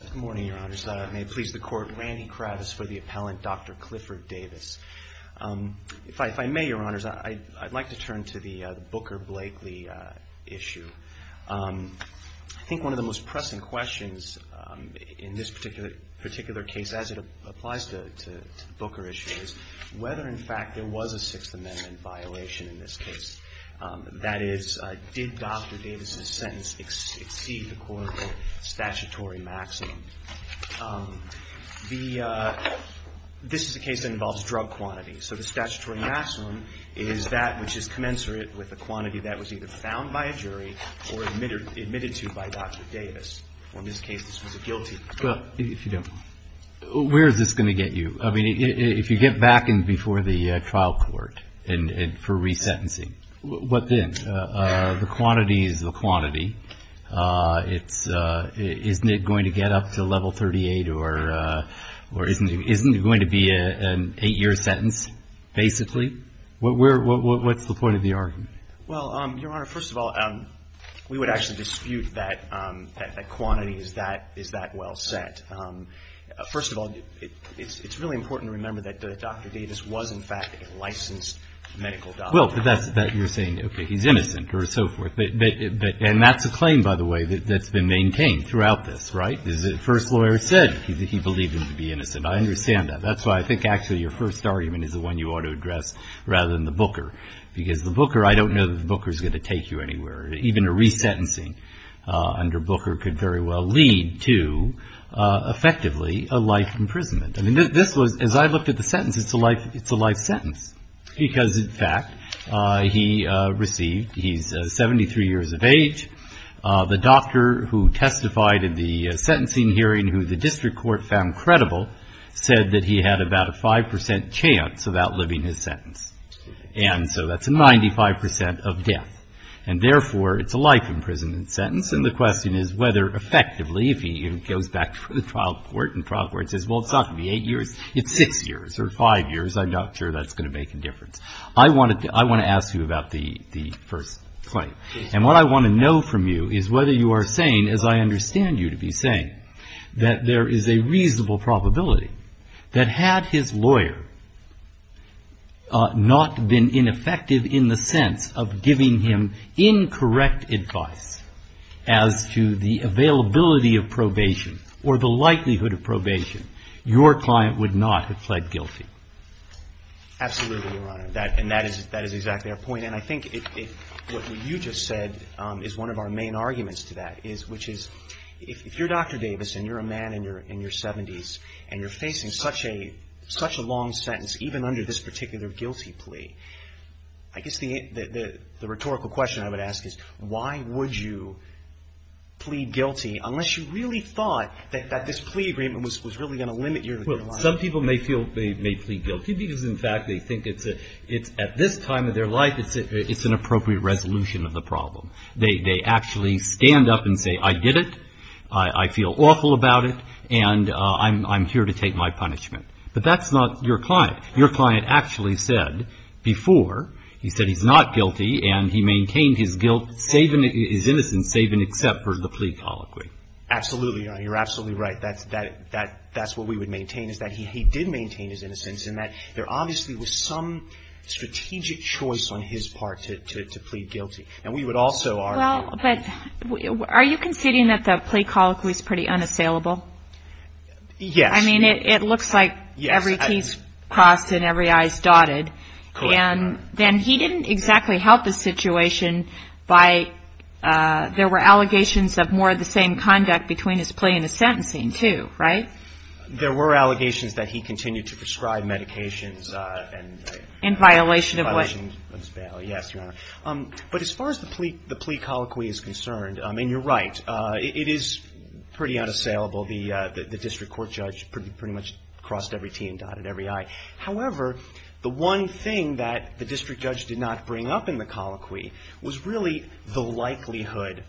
Good morning, Your Honors. May it please the Court, Randy Kravitz for the appellant, Dr. Clifford Davis. If I may, Your Honors, I'd like to turn to the Booker-Blakely issue. I think one of the most pressing questions in this particular case, as it applies to the Booker issue, is whether, in fact, there was a Sixth Amendment violation in this case. That is, did Dr. Davis's sentence exceed the court's statutory maximum? This is a case that involves drug quantity. So the statutory maximum is that which is commensurate with the quantity that was either found by a jury or admitted to by Dr. Davis. In this case, this was a guilty. Well, if you don't, where is this going to get you? I mean, if you get back in before the trial court for resentencing, what then? The quantity is the quantity. Isn't it going to get up to level 38, or isn't it going to be an 8-year sentence, basically? What's the point of the argument? Well, Your Honor, first of all, we would actually dispute that quantity. Is that well set? First of all, it's really important to remember that Dr. Davis was, in fact, a licensed medical doctor. Well, but you're saying, okay, he's innocent or so forth. And that's a claim, by the way, that's been maintained throughout this, right? The first lawyer said he believed him to be innocent. I understand that. That's why I think, actually, your first argument is the one you ought to address rather than the Booker. Because the Booker, I don't know that the Booker is going to take you anywhere. Even a resentencing under Booker could very well lead to, effectively, a life imprisonment. I mean, this was, as I looked at the sentence, it's a life sentence. Because, in fact, he received, he's 73 years of age. The doctor who testified in the sentencing hearing, who the district court found credible, said that he had about a 5 percent chance of outliving his sentence. And so that's a 95 percent of death. And, therefore, it's a life imprisonment sentence. And the question is whether, effectively, if he goes back to the trial court and the trial court says, well, it's not going to be 8 years, it's 6 years or 5 years, I'm not sure that's going to make a difference. I want to ask you about the first claim. And what I want to know from you is whether you are saying, as I understand you to be saying, that there is a reasonable probability that had his lawyer not been ineffective in the sense of giving him incorrect advice as to the availability of probation or the likelihood of probation, your client would not have pled guilty. Absolutely, Your Honor. And that is exactly our point. And I think what you just said is one of our main arguments to that, which is, if you're Dr. Davis and you're a man in your 70s and you're facing such a long sentence, even under this particular guilty plea, I guess the rhetorical question I would ask is, why would you plead guilty unless you really thought that this plea agreement was really going to limit your life? Well, some people may feel they may plead guilty because, in fact, they think it's at this time of their life it's an appropriate resolution of the problem. They actually stand up and say, I did it, I feel awful about it, and I'm here to take my punishment. But that's not your client. Your client actually said before, he said he's not guilty and he maintained his guilt, his innocence, save and except for the plea colloquy. Absolutely, Your Honor. You're absolutely right. That's what we would maintain is that he did maintain his innocence and that there obviously was some strategic choice on his part to plead guilty. And we would also argue that he did. Well, but are you conceding that the plea colloquy is pretty unassailable? Yes. I mean, it looks like every T is crossed and every I is dotted. Correct. And then he didn't exactly help the situation by there were allegations of more of the same conduct between his plea and his sentencing, too. Right? In violation of what? Yes, Your Honor. But as far as the plea colloquy is concerned, and you're right, it is pretty unassailable. The district court judge pretty much crossed every T and dotted every I. However, the one thing that the district judge did not bring up in the colloquy was really the likelihood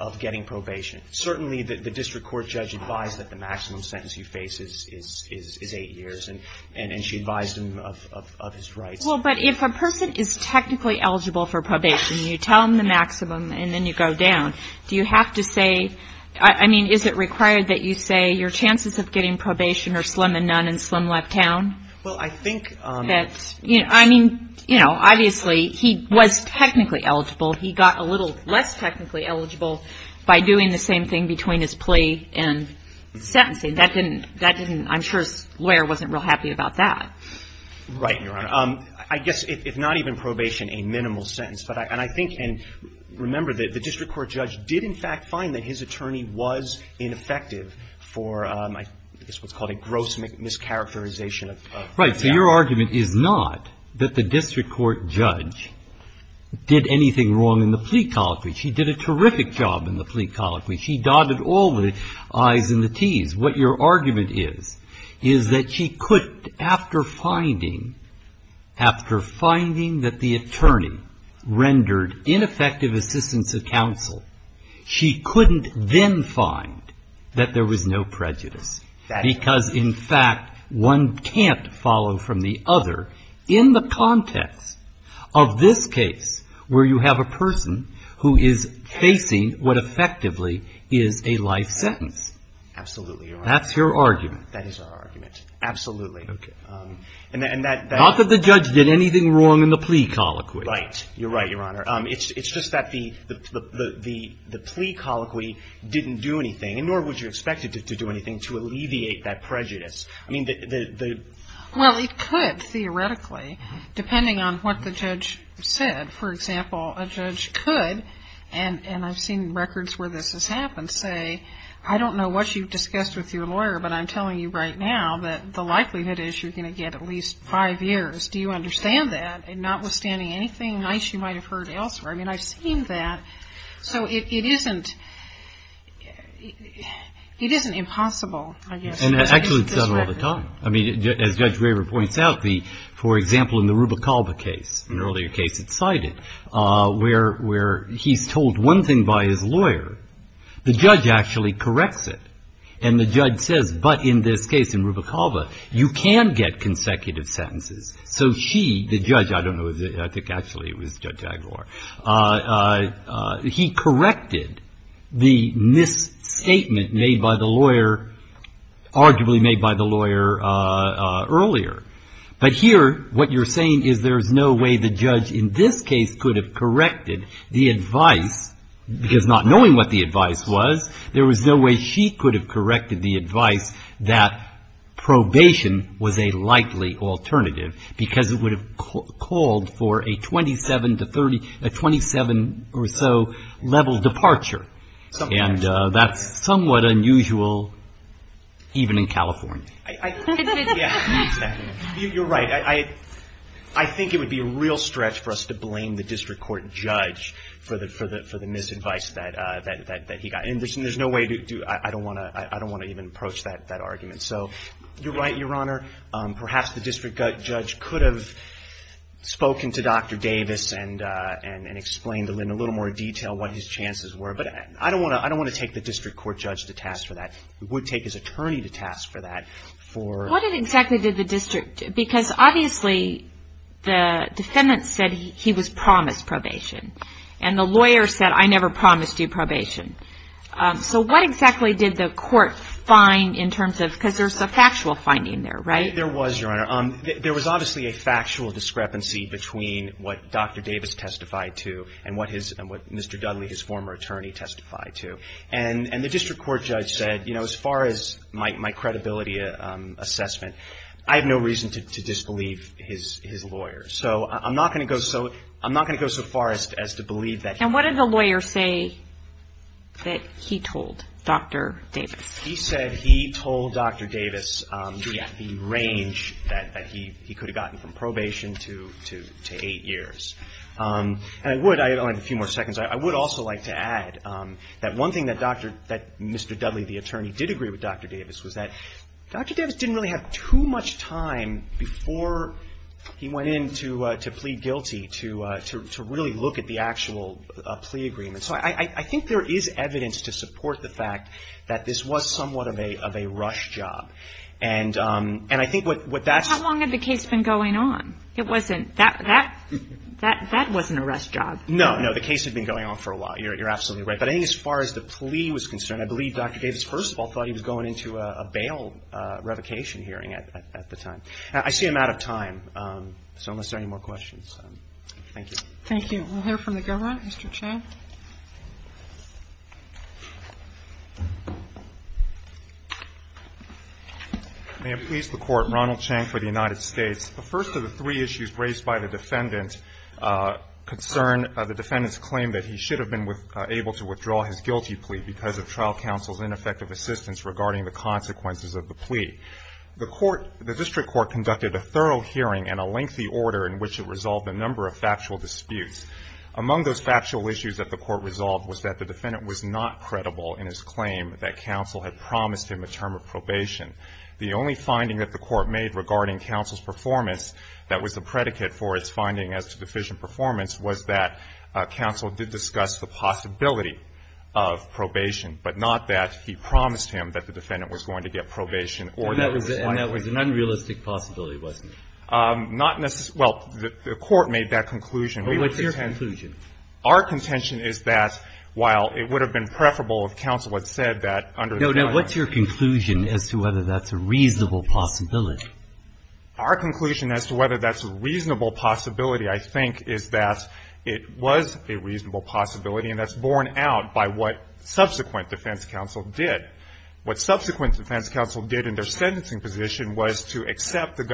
of getting probation. Certainly, the district court judge advised that the maximum sentence he faces is eight years, and she advised him of his rights. Well, but if a person is technically eligible for probation, you tell them the maximum and then you go down, do you have to say I mean, is it required that you say your chances of getting probation are slim and none and slim left town? Well, I think that's I mean, you know, obviously he was technically eligible. He got a little less technically eligible by doing the same thing between his plea and sentencing. That didn't I'm sure his lawyer wasn't real happy about that. Right, Your Honor. I guess if not even probation, a minimal sentence. And I think and remember that the district court judge did in fact find that his attorney was ineffective for what's called a gross mischaracterization of Right. So your argument is not that the district court judge did anything wrong in the plea colloquy. She did a terrific job in the plea colloquy. She dotted all the I's and the T's. What your argument is, is that she could, after finding, after finding that the attorney rendered ineffective assistance of counsel, she couldn't then find that there was no prejudice. Because in fact, one can't follow from the other in the context of this case where you have a person who is facing what effectively is a life sentence. Absolutely, Your Honor. That's your argument. That is our argument. Absolutely. Okay. And that Not that the judge did anything wrong in the plea colloquy. Right. You're right, Your Honor. It's just that the plea colloquy didn't do anything, nor would you expect it to do anything to alleviate that prejudice. I mean the Well, it could theoretically, depending on what the judge said. For example, a judge could, and I've seen records where this has happened, say, I don't know what you've discussed with your lawyer, but I'm telling you right now that the likelihood is you're going to get at least five years. Do you understand that? Notwithstanding anything nice you might have heard elsewhere. I mean, I've seen that. So it isn't, it isn't impossible, I guess. And actually it's done all the time. I mean, as Judge Graver points out, the, for example, in the Ruba Calva case, an earlier case that's cited, where he's told one thing by his lawyer. The judge actually corrects it. And the judge says, but in this case, in Ruba Calva, you can get consecutive sentences. So she, the judge, I don't know, I think actually it was Judge Aguilar, he corrected the misstatement made by the lawyer, arguably made by the lawyer earlier. But here, what you're saying is there's no way the judge in this case could have corrected the advice, because not knowing what the advice was, there was no way she could have corrected the advice that probation was a likely alternative, because it would have called for a 27 to 30, a 27 or so level departure. And that's somewhat unusual, even in California. Yeah, exactly. You're right. I think it would be a real stretch for us to blame the district court judge for the misadvice that he got. And there's no way to do, I don't want to even approach that argument. So you're right, Your Honor. Perhaps the district judge could have spoken to Dr. Davis and explained in a little more detail what his chances were. But I don't want to take the district court judge to task for that. It would take his attorney to task for that. What exactly did the district, because obviously the defendant said he was promised probation. And the lawyer said, I never promised you probation. So what exactly did the court find in terms of, because there's a factual finding there, right? There was, Your Honor. There was obviously a factual discrepancy between what Dr. Davis testified to and what Mr. Dudley, his former attorney, testified to. And the district court judge said, you know, as far as my credibility assessment, I have no reason to disbelieve his lawyer. So I'm not going to go so far as to believe that. And what did the lawyer say that he told Dr. Davis? He said he told Dr. Davis the range that he could have gotten from probation to eight years. And I would, I only have a few more seconds. I would also like to add that one thing that Dr. — that Mr. Dudley, the attorney, did agree with Dr. Davis was that Dr. Davis didn't really have too much time before he went in to plead guilty to really look at the actual plea agreement. So I think there is evidence to support the fact that this was somewhat of a rush job. And I think what that's — How long had the case been going on? It wasn't — that wasn't a rush job. No, no. The case had been going on for a while. You're absolutely right. But I think as far as the plea was concerned, I believe Dr. Davis, first of all, thought he was going into a bail revocation hearing at the time. I see I'm out of time. So unless there are any more questions, thank you. Thank you. We'll hear from the government. Mr. Chang. May it please the Court, Ronald Chang for the United States. The first of the three issues raised by the defendant concern the defendant's claim that he should have been able to withdraw his guilty plea because of trial counsel's ineffective assistance regarding the consequences of the plea. The court — the district court conducted a thorough hearing and a lengthy order in which it resolved a number of factual disputes. Among those factual issues that the court resolved was that the defendant was not credible in his claim that counsel had promised him a term of probation. The only finding that the court made regarding counsel's performance that was a predicate for its finding as to deficient performance was that counsel did discuss the possibility of probation, but not that he promised him that the defendant was going to get probation or that it was likely. And that was an unrealistic possibility, wasn't it? Not necessarily. Well, the court made that conclusion. But what's your conclusion? Our contention is that while it would have been preferable if counsel had said that under the guidelines. No, no. What's your conclusion as to whether that's a reasonable possibility? Our conclusion as to whether that's a reasonable possibility, I think, is that it was a reasonable possibility, and that's borne out by what subsequent defense counsel did. What subsequent defense counsel did in their sentencing position was to accept the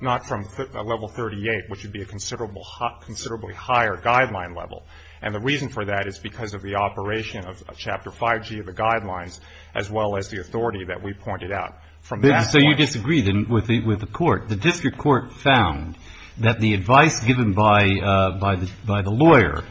not from level 38, which would be a considerably higher guideline level. And the reason for that is because of the operation of Chapter 5G of the guidelines as well as the authority that we pointed out from that point. So you disagree, then, with the court. The district court found that the advice given by the lawyer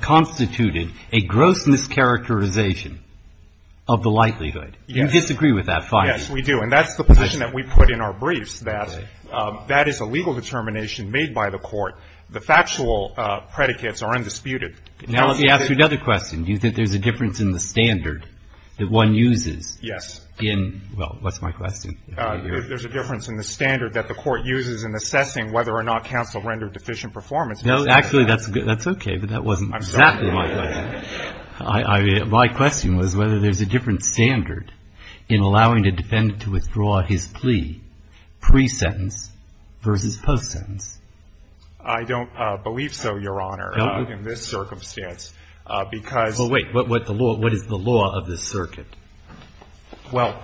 constituted a gross mischaracterization of the likelihood. Yes. You disagree with that finding. Yes, we do. And that's the position that we put in our briefs, that that is a legal determination made by the court. The factual predicates are undisputed. Now, let me ask you another question. Do you think there's a difference in the standard that one uses in — well, what's my question? There's a difference in the standard that the court uses in assessing whether or not counsel rendered deficient performance. No, actually, that's okay, but that wasn't exactly my question. I'm sorry. My question was whether there's a different standard in allowing a defendant to withdraw his plea pre-sentence versus post-sentence. I don't believe so, Your Honor, in this circumstance, because — Well, wait. What is the law of this circuit? Well,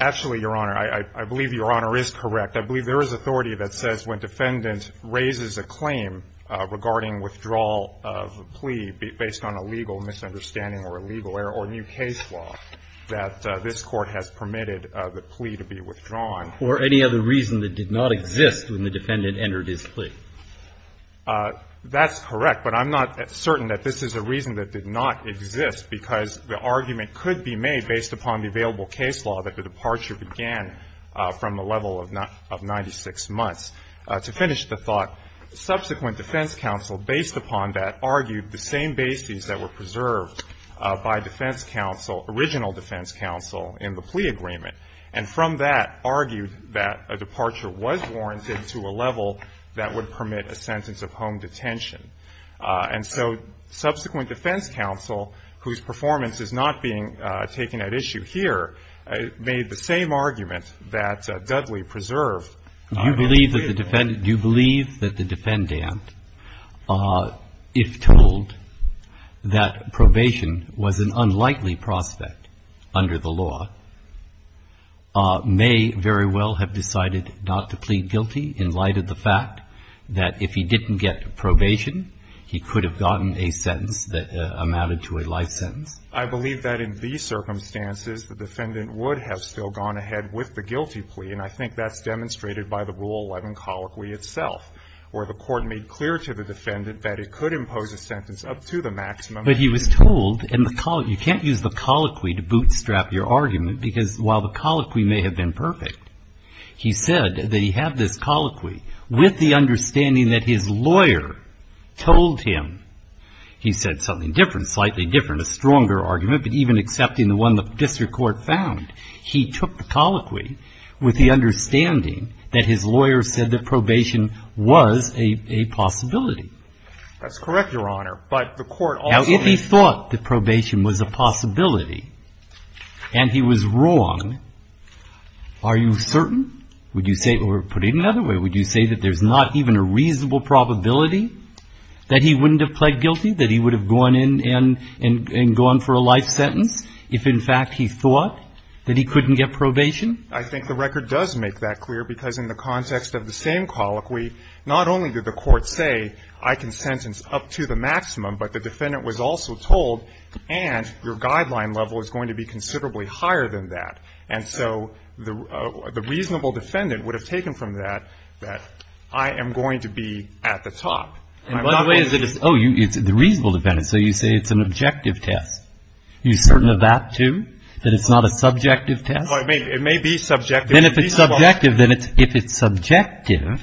actually, Your Honor, I believe Your Honor is correct. I believe there is authority that says when defendant raises a claim regarding withdrawal of a plea based on a legal misunderstanding or a legal error or new case law, that this Court has permitted the plea to be withdrawn. Or any other reason that did not exist when the defendant entered his plea. That's correct. But I'm not certain that this is a reason that did not exist, because the argument could be made based upon the available case law that the departure began from a level of 96 months. To finish the thought, subsequent defense counsel, based upon that, argued the same bases that were preserved by defense counsel, original defense counsel, in the plea agreement. And from that argued that a departure was warranted to a level that would permit a sentence of home detention. And so subsequent defense counsel, whose performance is not being taken at issue here, made the same argument that Dudley preserved. Do you believe that the defendant, if told that probation was an unlikely prospect under the law, may very well have decided not to plead guilty in light of the fact that if he didn't get probation, he could have gotten a sentence that amounted to a life sentence? I believe that in these circumstances, the defendant would have still gone ahead with the guilty plea. And I think that's demonstrated by the Rule 11 colloquy itself, where the court made clear to the defendant that it could impose a sentence up to the maximum. But he was told in the colloquy, you can't use the colloquy to bootstrap your argument, because while the colloquy may have been perfect, he said that he had this colloquy with the understanding that his lawyer told him. He said something different, slightly different, a stronger argument, but even accepting the one the district court found. He took the colloquy with the understanding that his lawyer said that probation was a possibility. That's correct, Your Honor. But the court also made clear. Now, if he thought that probation was a possibility and he was wrong, are you certain? Would you say, or put it another way, would you say that there's not even a reasonable probability that he wouldn't have pled guilty, that he would have gone in and gone for a life sentence if, in fact, he thought that he couldn't get probation? I think the record does make that clear, because in the context of the same colloquy, not only did the court say, I can sentence up to the maximum, but the defendant was also told, and your guideline level is going to be considerably higher than that. And so the reasonable defendant would have taken from that that I am going to be at the top. And by the way, oh, it's the reasonable defendant. So you say it's an objective test. Are you certain of that, too, that it's not a subjective test? It may be subjective. Then if it's subjective,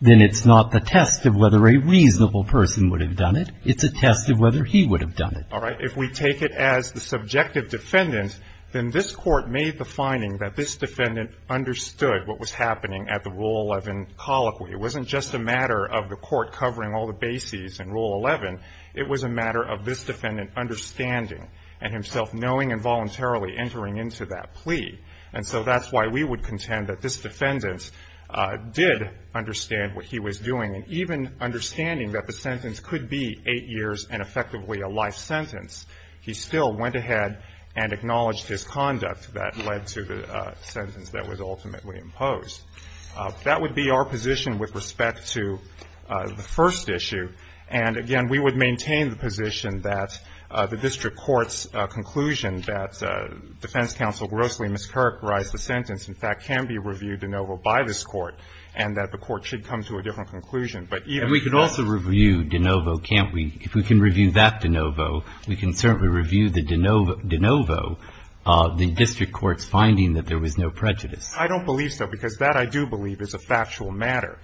then it's not the test of whether a reasonable person would have done it. It's a test of whether he would have done it. All right. If we take it as the subjective defendant, then this Court made the finding that this defendant understood what was happening at the Rule 11 colloquy. It wasn't just a matter of the Court covering all the bases in Rule 11. It was a matter of this defendant understanding and himself knowing and voluntarily entering into that plea. And so that's why we would contend that this defendant did understand what he was doing. And even understanding that the sentence could be 8 years and effectively a life sentence, he still went ahead and acknowledged his conduct that led to the sentence that was ultimately imposed. That would be our position with respect to the first issue. And, again, we would maintain the position that the district court's conclusion that defense counsel grossly mischaracterized the sentence, in fact, can be reviewed de novo by this Court, and that the Court should come to a different conclusion. But even if that's the case. And we could also review de novo, can't we? If we can review that de novo, we can certainly review the de novo, the district court's finding that there was no prejudice. I don't believe so, because that, I do believe, is a factual matter,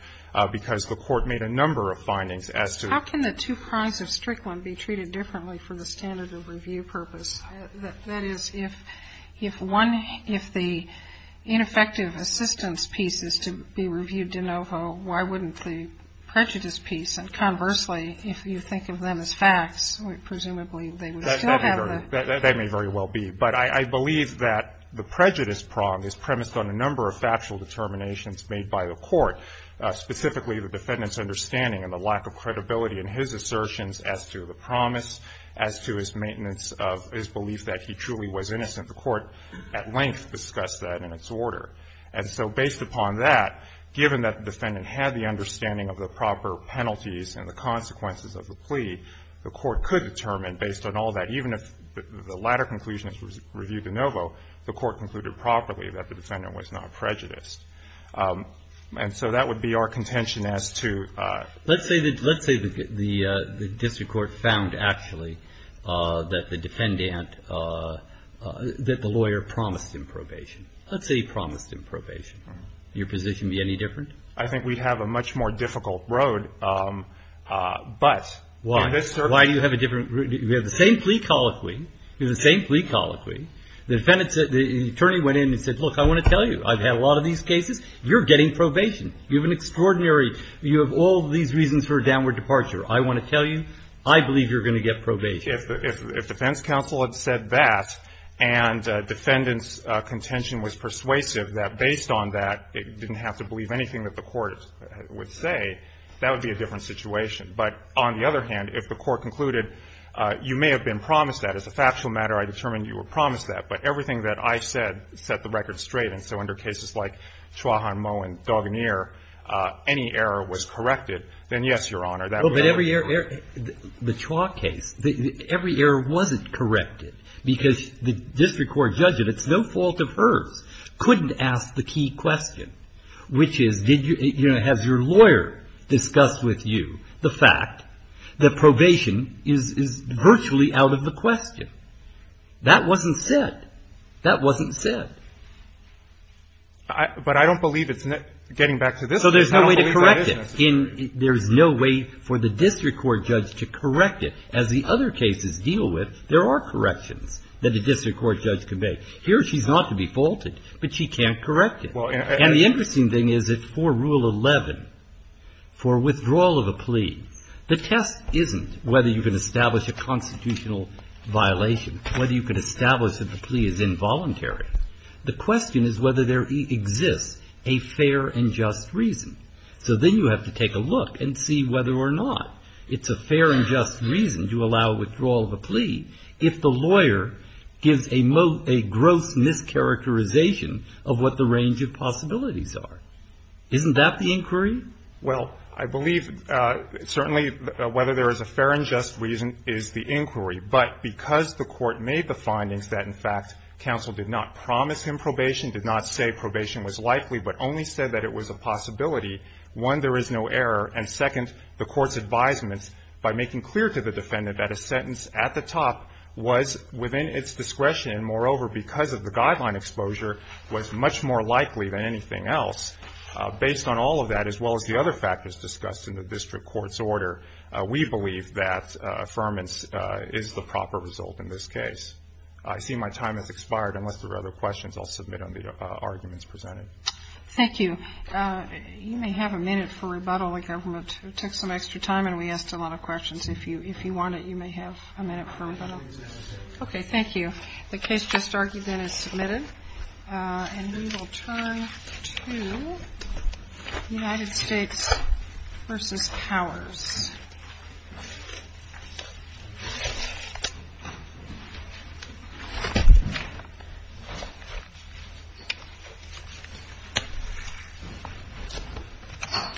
because the Court made a number of findings as to. How can the two prongs of Strickland be treated differently from the standard of review purpose? That is, if one, if the ineffective assistance piece is to be reviewed de novo, why wouldn't the prejudice piece? And conversely, if you think of them as facts, presumably they would still have the. That may very well be. But I believe that the prejudice prong is premised on a number of factual determinations made by the Court, specifically the defendant's understanding and the lack of credibility in his assertions as to the promise, as to his maintenance of his belief that he truly was innocent. The Court at length discussed that in its order. And so based upon that, given that the defendant had the understanding of the proper penalties and the consequences of the plea, the Court could determine, based on all that, even if the latter conclusion is reviewed de novo, the Court concluded properly that the defendant was not prejudiced. And so that would be our contention as to ---- Let's say that the district court found actually that the defendant, that the lawyer promised him probation. Let's say he promised him probation. Would your position be any different? I think we'd have a much more difficult road. But in this circumstance ---- We have the same plea colloquy. We have the same plea colloquy. The defendant said ---- the attorney went in and said, look, I want to tell you, I've had a lot of these cases. You're getting probation. You have an extraordinary ---- you have all these reasons for a downward departure. I want to tell you, I believe you're going to get probation. If defense counsel had said that and defendant's contention was persuasive, that based on that, it didn't have to believe anything that the Court would say, that would be a different situation. But on the other hand, if the Court concluded, you may have been promised that. As a factual matter, I determined you were promised that. But everything that I said set the record straight. And so under cases like Chua, Hahn, Moe, and Duganere, any error was corrected, then yes, Your Honor, that would ---- But every error ---- the Chua case, every error wasn't corrected because the district court judge, and it's no fault of hers, couldn't ask the key question, which is did your lawyer discuss with you the fact that probation is virtually out of the question? That wasn't said. That wasn't said. But I don't believe it's getting back to this case. I don't believe that is necessary. So there's no way to correct it. There's no way for the district court judge to correct it. As the other cases deal with, there are corrections that a district court judge can make. Here she's not to be faulted, but she can't correct it. And the interesting thing is that for Rule 11, for withdrawal of a plea, the test isn't whether you can establish a constitutional violation, whether you can establish that the plea is involuntary. The question is whether there exists a fair and just reason. So then you have to take a look and see whether or not it's a fair and just reason to allow withdrawal of a plea if the lawyer gives a gross mischaracterization of what the range of possibilities are. Isn't that the inquiry? Well, I believe certainly whether there is a fair and just reason is the inquiry. But because the Court made the findings that, in fact, counsel did not promise him probation, did not say probation was likely, but only said that it was a possibility, one, there is no error. And second, the Court's advisements by making clear to the defendant that a sentence at the top was within its discretion and, moreover, because of the guideline exposure, was much more likely than anything else. Based on all of that, as well as the other factors discussed in the district court's order, we believe that affirmance is the proper result in this case. I see my time has expired. Unless there are other questions, I'll submit on the arguments presented. Thank you. You may have a minute for rebuttal. The government took some extra time and we asked a lot of questions. If you want it, you may have a minute for rebuttal. Okay, thank you. The case just argued then is submitted. And we will turn to United States v. Powers.